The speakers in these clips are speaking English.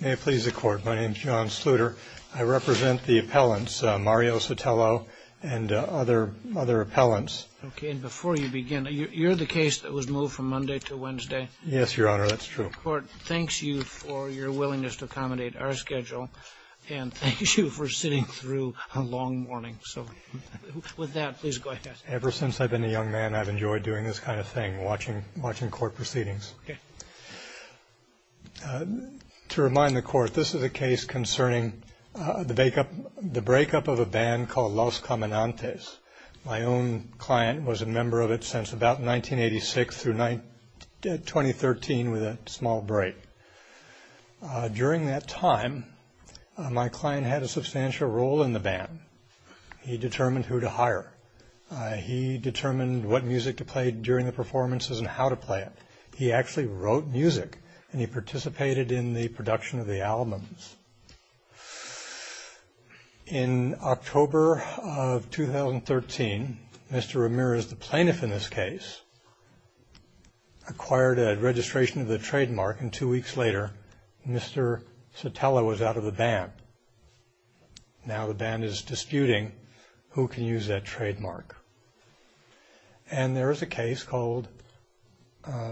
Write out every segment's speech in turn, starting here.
May it please the Court, my name is John Sluder. I represent the appellants, Mario Sotelo and other appellants. Okay. And before you begin, you're the case that was moved from Monday to Wednesday? Yes, Your Honor, that's true. The Court thanks you for your willingness to accommodate our schedule and thanks you for sitting through a long morning. So with that, please go ahead. Ever since I've been a young man, I've enjoyed doing this kind of thing, watching Court proceedings. Okay. To remind the Court, this is a case concerning the breakup of a band called Los Cominantes. My own client was a member of it since about 1986 through 2013 with a small break. During that time, my client had a substantial role in the band. He determined who to hire. He determined what music to play during the performances and how to play it. He actually wrote music and he participated in the production of the albums. In October of 2013, Mr. Ramirez, the plaintiff in this case, acquired a registration of the trademark and two weeks later, Mr. Sotelo was out of the band. Now the band is disputing who can use that trademark. And there is a case called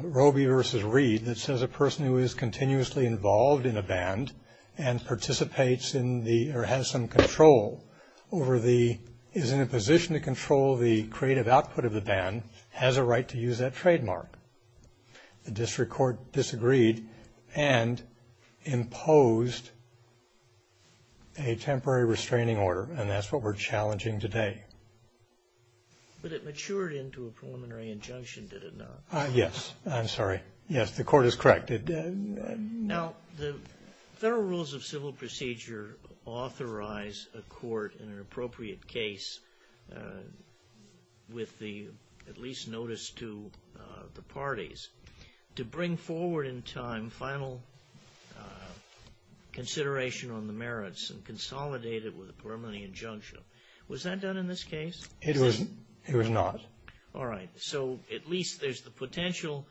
Robey v. Reed that says a person who is continuously involved in a band and participates in the, or has some control over the, is in a position to control the creative output of the band, has a right to use that trademark. The district court disagreed and imposed a temporary restraining order and that's what we're challenging today. But it matured into a preliminary injunction, did it not? Yes. I'm sorry. Yes, the Court is correct. Now the Federal Rules of Civil Procedure authorize a court in an appropriate case with the, at least notice to the parties, to bring forward in time final consideration on the merits and consolidate it with a preliminary injunction. Was that done in this case? It was not. All right. So at least there's the potential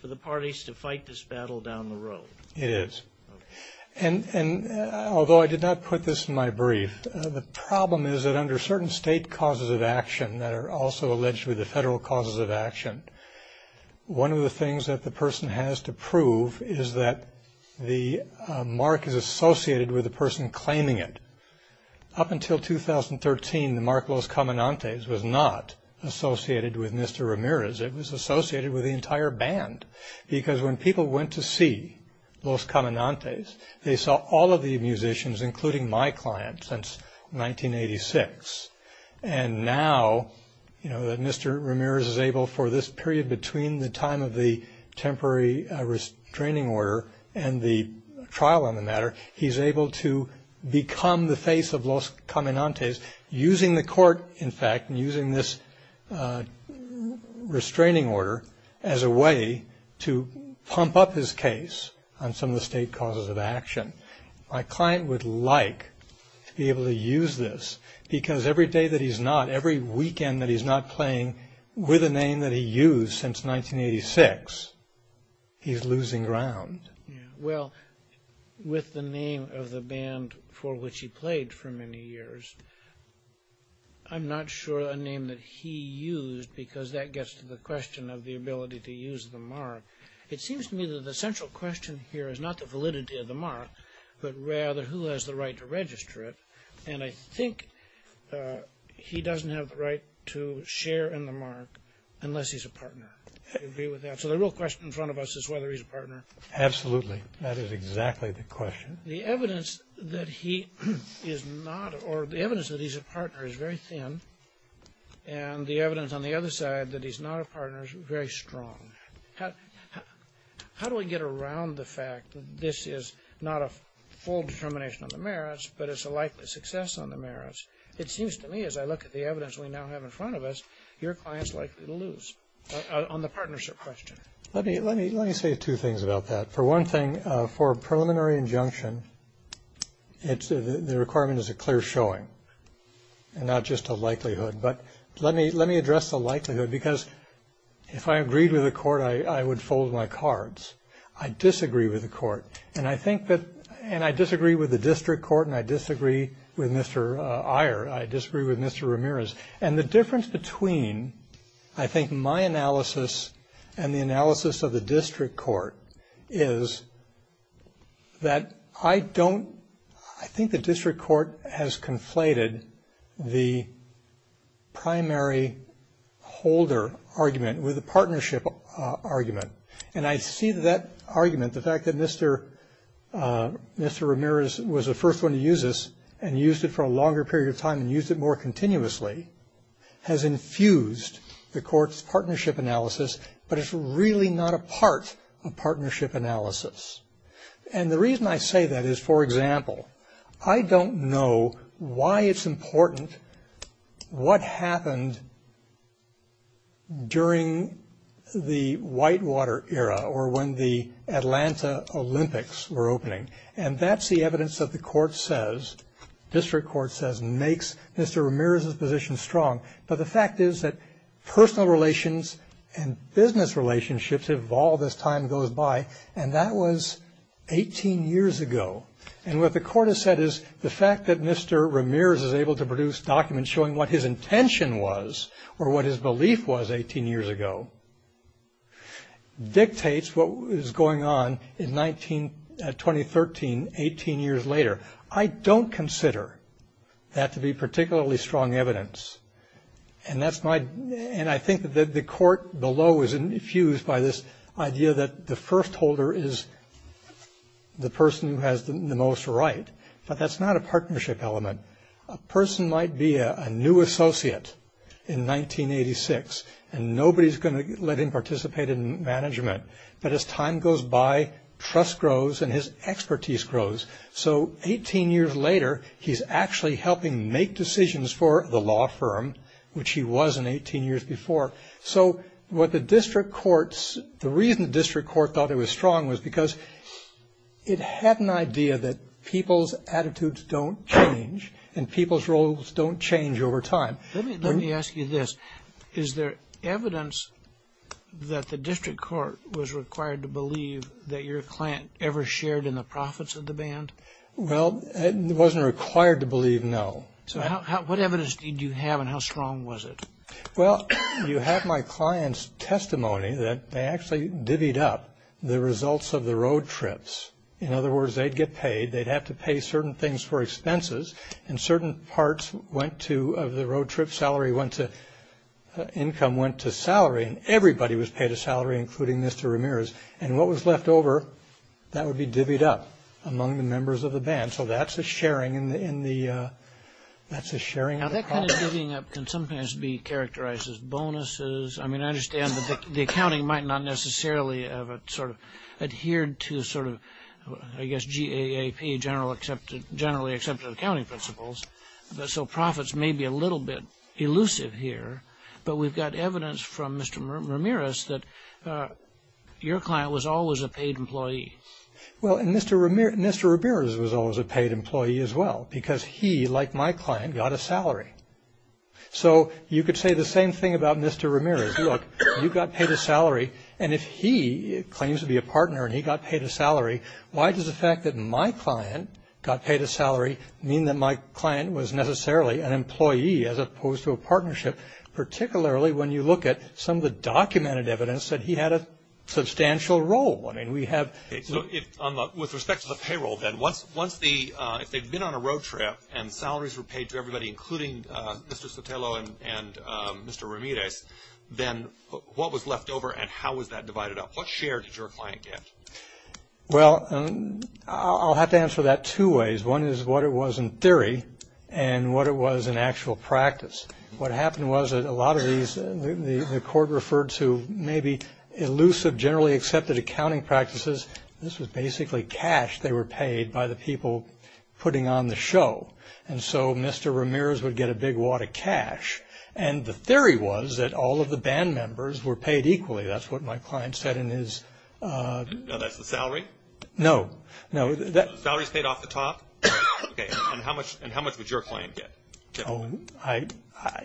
for the parties to fight this battle down the road. It is. And although I did not put this in my brief, the problem is that under certain state causes of action that are also allegedly the federal causes of action, one of the things that the person has to prove is that the mark is associated with the person claiming it. Up until 2013, the mark Los Cominantes was not associated with Mr. Ramirez, it was associated with the entire band. Because when people went to see Los Cominantes, they saw all of the musicians, including my client, since 1986. And now, you know, that Mr. Ramirez is able for this period between the time of the temporary restraining order and the trial on the matter, he's able to become the face of Los Cominantes using the court, in fact, and using this restraining order as a way to pump up his case on some of the state causes of action. My client would like to be able to use this because every day that he's not, every weekend that he's not playing with a name that he used since 1986, he's losing ground. Well, with the name of the band for which he played for many years, I'm not sure a name that he used because that gets to the question of the ability to use the mark. It seems to me that the central question here is not the validity of the mark, but rather who has the right to register it. And I think he doesn't have the right to share in the mark unless he's a partner. So the real question in front of us is whether he's a partner. Absolutely. That is exactly the question. The evidence that he is not, or the evidence that he's a partner is very thin, and the evidence on the other side that he's not a partner is very strong. How do we get around the fact that this is not a full determination of the merits, but it's a likely success on the merits? It seems to me, as I look at the evidence we now have in front of us, your client's likely to lose on the partnership question. Let me say two things about that. For one thing, for a preliminary injunction, the requirement is a clear showing and not just a likelihood. But let me address the likelihood, because if I agreed with the court, I would fold my cards. I disagree with the court, and I disagree with the district court, and I disagree with Mr. Iyer. I disagree with Mr. Ramirez. And the difference between, I think, my analysis and the analysis of the district court is that I don't ‑‑ I think the district court has conflated the primary holder argument with the partnership argument. And I see that argument, the fact that Mr. Ramirez was the first one to use this and used it for a longer period of time and used it more continuously has infused the court's partnership analysis, but it's really not a part of partnership analysis. And the reason I say that is, for example, I don't know why it's important what happened during the Whitewater era or when the Atlanta Olympics were opening. And that's the evidence that the court says, district court says, makes Mr. Ramirez's position strong. But the fact is that personal relations and business relationships evolve as time goes by, and that was 18 years ago. And what the court has said is the fact that Mr. Ramirez is able to produce documents showing what his intention was or what his belief was 18 years ago dictates what is going on in 2013, 18 years later. I don't consider that to be particularly strong evidence. And I think that the court below is infused by this idea that the first holder is the person who has the most right. But that's not a partnership element. A person might be a new associate in 1986, and nobody's going to let him participate in management. But as time goes by, trust grows and his expertise grows. So 18 years later, he's actually helping make decisions for the law firm, which he was in 18 years before. So the reason the district court thought it was strong was because it had an idea that people's attitudes don't change and people's roles don't change over time. Let me ask you this. Is there evidence that the district court was required to believe that your client ever shared in the profits of the band? Well, it wasn't required to believe, no. So what evidence did you have and how strong was it? Well, you have my client's testimony that they actually divvied up the results of the road trips. In other words, they'd get paid, they'd have to pay certain things for expenses, and certain parts of the road trip income went to salary, and everybody was paid a salary, including Mr. Ramirez. And what was left over, that would be divvied up among the members of the band. So that's a sharing in the profit. Now, that kind of divvying up can sometimes be characterized as bonuses. I mean, I understand that the accounting might not necessarily have sort of adhered to sort of, I guess, GAAP, generally accepted accounting principles. So profits may be a little bit elusive here. But we've got evidence from Mr. Ramirez that your client was always a paid employee. Well, and Mr. Ramirez was always a paid employee as well because he, like my client, got a salary. So you could say the same thing about Mr. Ramirez. Look, you got paid a salary, and if he claims to be a partner and he got paid a salary, why does the fact that my client got paid a salary mean that my client was necessarily an employee as opposed to a partnership, particularly when you look at some of the documented evidence that he had a substantial role? I mean, we have – So with respect to the payroll, then, once the – if they'd been on a road trip and salaries were paid to everybody, including Mr. Sotelo and Mr. Ramirez, then what was left over and how was that divided up? What share did your client get? Well, I'll have to answer that two ways. One is what it was in theory and what it was in actual practice. What happened was that a lot of these – the court referred to maybe elusive, generally accepted accounting practices. This was basically cash they were paid by the people putting on the show. And so Mr. Ramirez would get a big wad of cash. And the theory was that all of the band members were paid equally. That's what my client said in his – Now, that's the salary? No, no. Salaries paid off the top? Okay, and how much would your client get? Oh, I –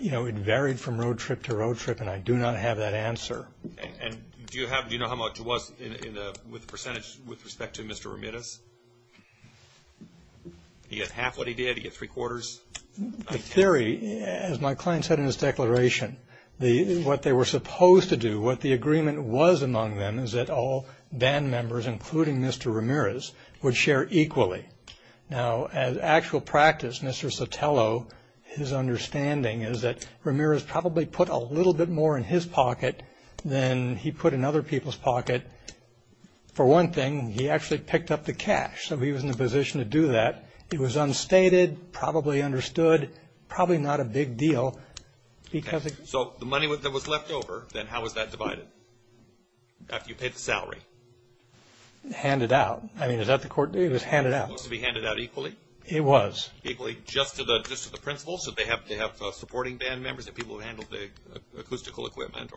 you know, it varied from road trip to road trip, and I do not have that answer. And do you have – do you know how much was in the – with the percentage with respect to Mr. Ramirez? He got half what he did? He got three-quarters? In theory, as my client said in his declaration, what they were supposed to do, what the agreement was among them is that all band members, including Mr. Ramirez, would share equally. Now, as actual practice, Mr. Sotelo, his understanding is that Ramirez probably put a little bit more in his pocket than he put in other people's pocket. For one thing, he actually picked up the cash, so he was in a position to do that. It was unstated, probably understood, probably not a big deal because – Okay, so the money that was left over, then how was that divided? After you paid the salary? Handed out. I mean, is that the court – it was handed out. It was to be handed out equally? It was. Equally, just to the principals? Did they have supporting band members, the people who handled the acoustical equipment?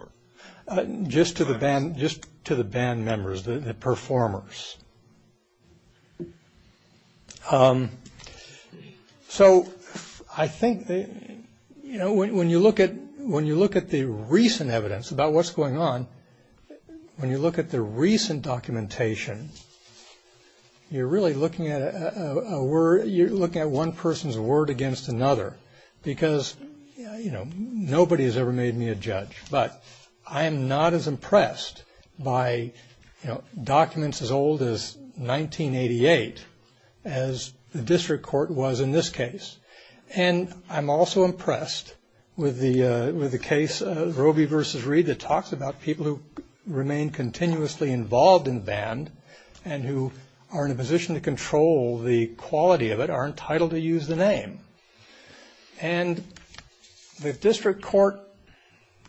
Just to the band members, the performers. So I think, you know, when you look at the recent evidence about what's going on, when you look at the recent documentation, you're really looking at a word – you're looking at one person's word against another because, you know, nobody has ever made me a judge. But I am not as impressed by, you know, documents as old as 1988 as the district court was in this case. And I'm also impressed with the case, Robey v. Reed, that talks about people who remain continuously involved in band and who are in a position to control the quality of it are entitled to use the name. And the district court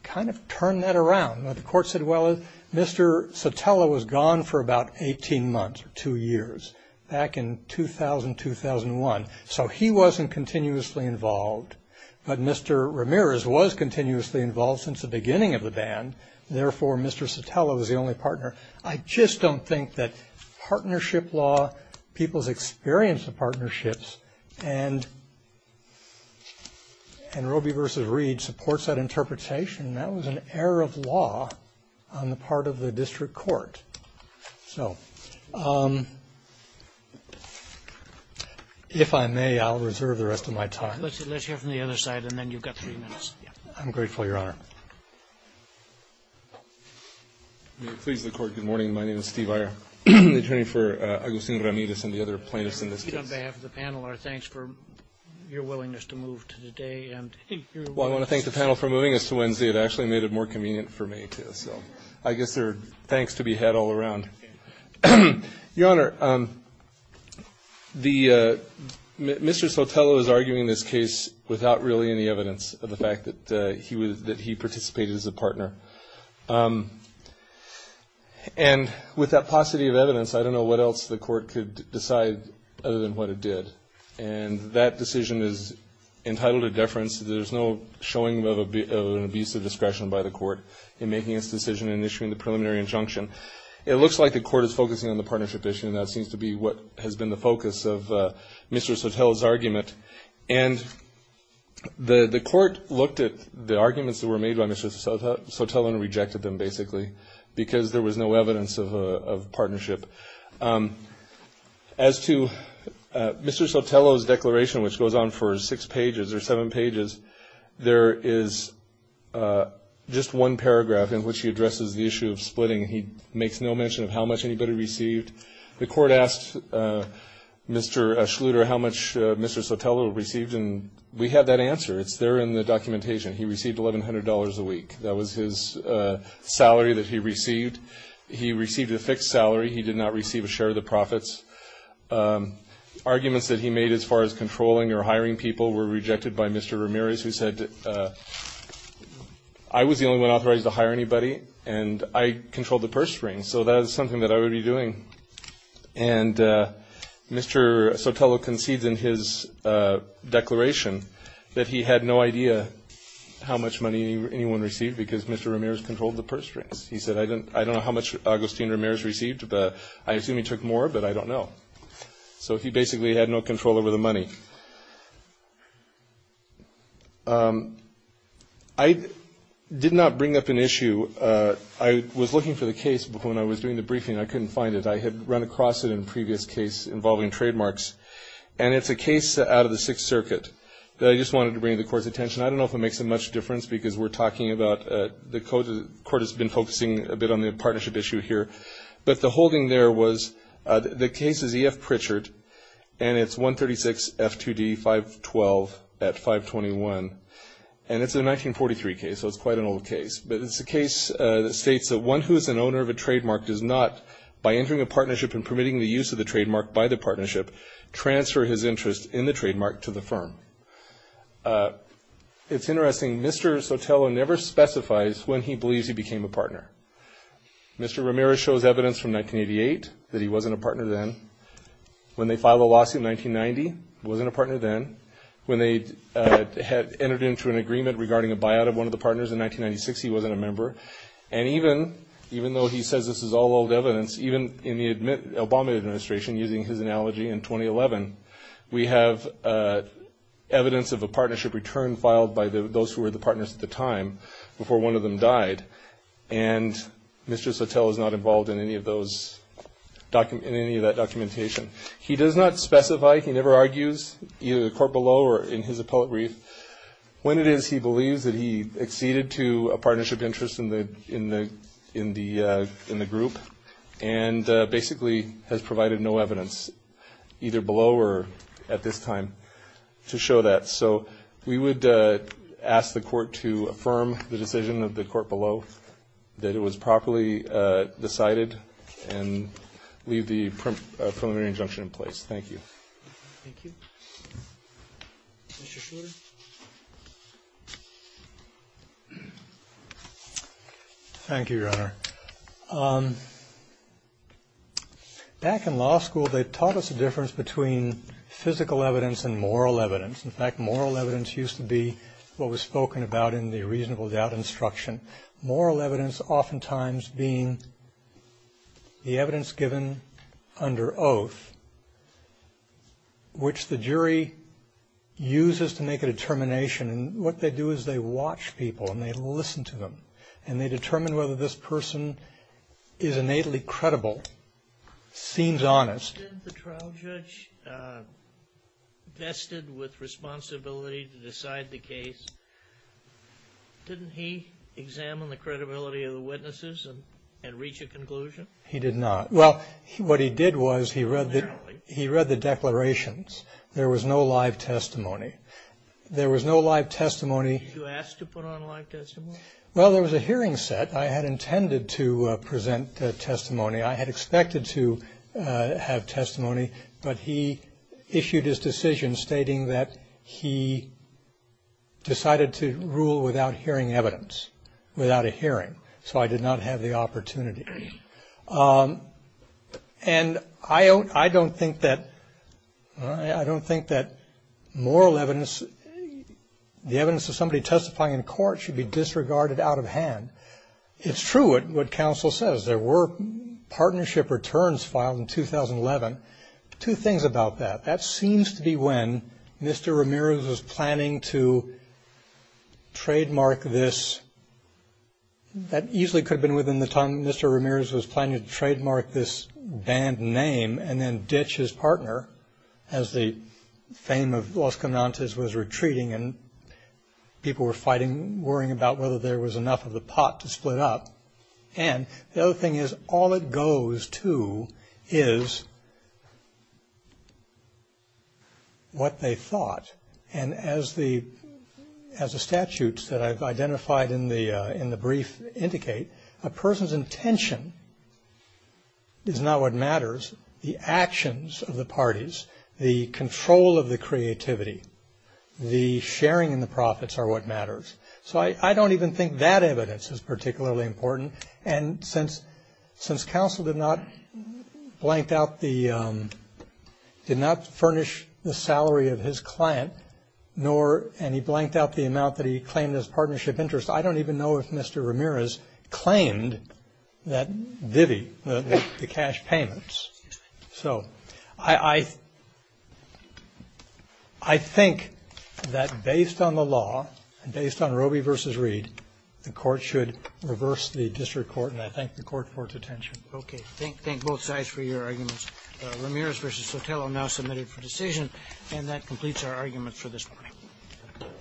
kind of turned that around. The court said, well, Mr. Sotelo was gone for about 18 months or two years back in 2000, 2001. So he wasn't continuously involved. But Mr. Ramirez was continuously involved since the beginning of the band. Therefore, Mr. Sotelo was the only partner. I just don't think that partnership law, people's experience of partnerships, and Robey v. Reed supports that interpretation. That was an error of law on the part of the district court. So if I may, I'll reserve the rest of my time. Let's hear from the other side, and then you've got three minutes. I'm grateful, Your Honor. Please, the Court. Good morning. My name is Steve Iyer, the attorney for Agustin Ramirez and the other plaintiffs in this case. On behalf of the panel, our thanks for your willingness to move to the day. Well, I want to thank the panel for moving us to Wednesday. It actually made it more convenient for me, too. So I guess there are thanks to be had all around. Your Honor, Mr. Sotelo is arguing this case without really any evidence of the fact that he participated as a partner. And with that paucity of evidence, I don't know what else the Court could decide other than what it did. And that decision is entitled to deference. There's no showing of an abuse of discretion by the Court in making its decision in issuing the preliminary injunction. It looks like the Court is focusing on the partnership issue, and that seems to be what has been the focus of Mr. Sotelo's argument. And the Court looked at the arguments that were made by Mr. Sotelo and rejected them, basically, because there was no evidence of partnership. As to Mr. Sotelo's declaration, which goes on for six pages or seven pages, there is just one paragraph in which he addresses the issue of splitting. He makes no mention of how much anybody received. The Court asked Mr. Schluter how much Mr. Sotelo received, and we had that answer. It's there in the documentation. He received $1,100 a week. That was his salary that he received. He received a fixed salary. He did not receive a share of the profits. Arguments that he made as far as controlling or hiring people were rejected by Mr. Ramirez, who said, I was the only one authorized to hire anybody, and I controlled the purse strings, so that is something that I would be doing. And Mr. Sotelo concedes in his declaration that he had no idea how much money anyone received because Mr. Ramirez controlled the purse strings. He said, I don't know how much Agustin Ramirez received, but I assume he took more, but I don't know. So he basically had no control over the money. I did not bring up an issue. I was looking for the case when I was doing the briefing. I couldn't find it. I had run across it in a previous case involving trademarks, and it's a case out of the Sixth Circuit that I just wanted to bring to the Court's attention. I don't know if it makes that much difference because we're talking about the Court has been focusing a bit on the partnership issue here, but the holding there was the case is E.F. Pritchard, and it's 136 F2D 512 at 521, and it's a 1943 case, so it's quite an old case. But it's a case that states that one who is an owner of a trademark does not, by entering a partnership and permitting the use of the trademark by the partnership, transfer his interest in the trademark to the firm. It's interesting. Mr. Sotelo never specifies when he believes he became a partner. Mr. Ramirez shows evidence from 1988 that he wasn't a partner then. When they filed a lawsuit in 1990, he wasn't a partner then. When they had entered into an agreement regarding a buyout of one of the partners in 1996, he wasn't a member. And even though he says this is all old evidence, even in the Obama administration using his analogy in 2011, we have evidence of a partnership return filed by those who were the partners at the time before one of them died, and Mr. Sotelo is not involved in any of that documentation. He does not specify, he never argues, either the court below or in his appellate brief. When it is he believes that he acceded to a partnership interest in the group and basically has provided no evidence either below or at this time to show that. So we would ask the court to affirm the decision of the court below that it was properly decided and leave the preliminary injunction in place. Thank you. Thank you. Mr. Schroeder. Thank you, Your Honor. Back in law school, they taught us the difference between physical evidence and moral evidence. In fact, moral evidence used to be what was spoken about in the reasonable doubt instruction. Moral evidence oftentimes being the evidence given under oath, which the jury uses to make a determination. What they do is they watch people and they listen to them and they determine whether this person is innately credible, seems honest. The trial judge vested with responsibility to decide the case, didn't he examine the credibility of the witnesses and reach a conclusion? He did not. Well, what he did was he read the declarations. There was no live testimony. There was no live testimony. Did you ask to put on live testimony? Well, there was a hearing set. I had intended to present testimony. I had expected to have testimony, but he issued his decision stating that he decided to rule without hearing evidence, without a hearing. So I did not have the opportunity. And I don't think that moral evidence, the evidence of somebody testifying in court should be disregarded out of hand. It's true what counsel says. There were partnership returns filed in 2011. Two things about that. That seems to be when Mr. Ramirez was planning to trademark this. That easily could have been within the time Mr. Ramirez was planning to trademark this band name and then ditch his partner as the fame of Los Caminantes was retreating and people were fighting, worrying about whether there was enough of the pot to split up. And the other thing is all it goes to is what they thought. And as the statutes that I've identified in the brief indicate, a person's intention is not what matters. The actions of the parties, the control of the creativity, the sharing in the profits are what matters. So I don't even think that evidence is particularly important. And since counsel did not blank out the, did not furnish the salary of his client, nor and he blanked out the amount that he claimed as partnership interest, I don't even know if Mr. Ramirez claimed that divvy, the cash payments. So I think that based on the law, based on Roby versus Reed, the court should reverse the district court and I thank the court for its attention. Okay. Thank both sides for your arguments. Ramirez versus Sotelo now submitted for decision. And that completes our arguments for this morning.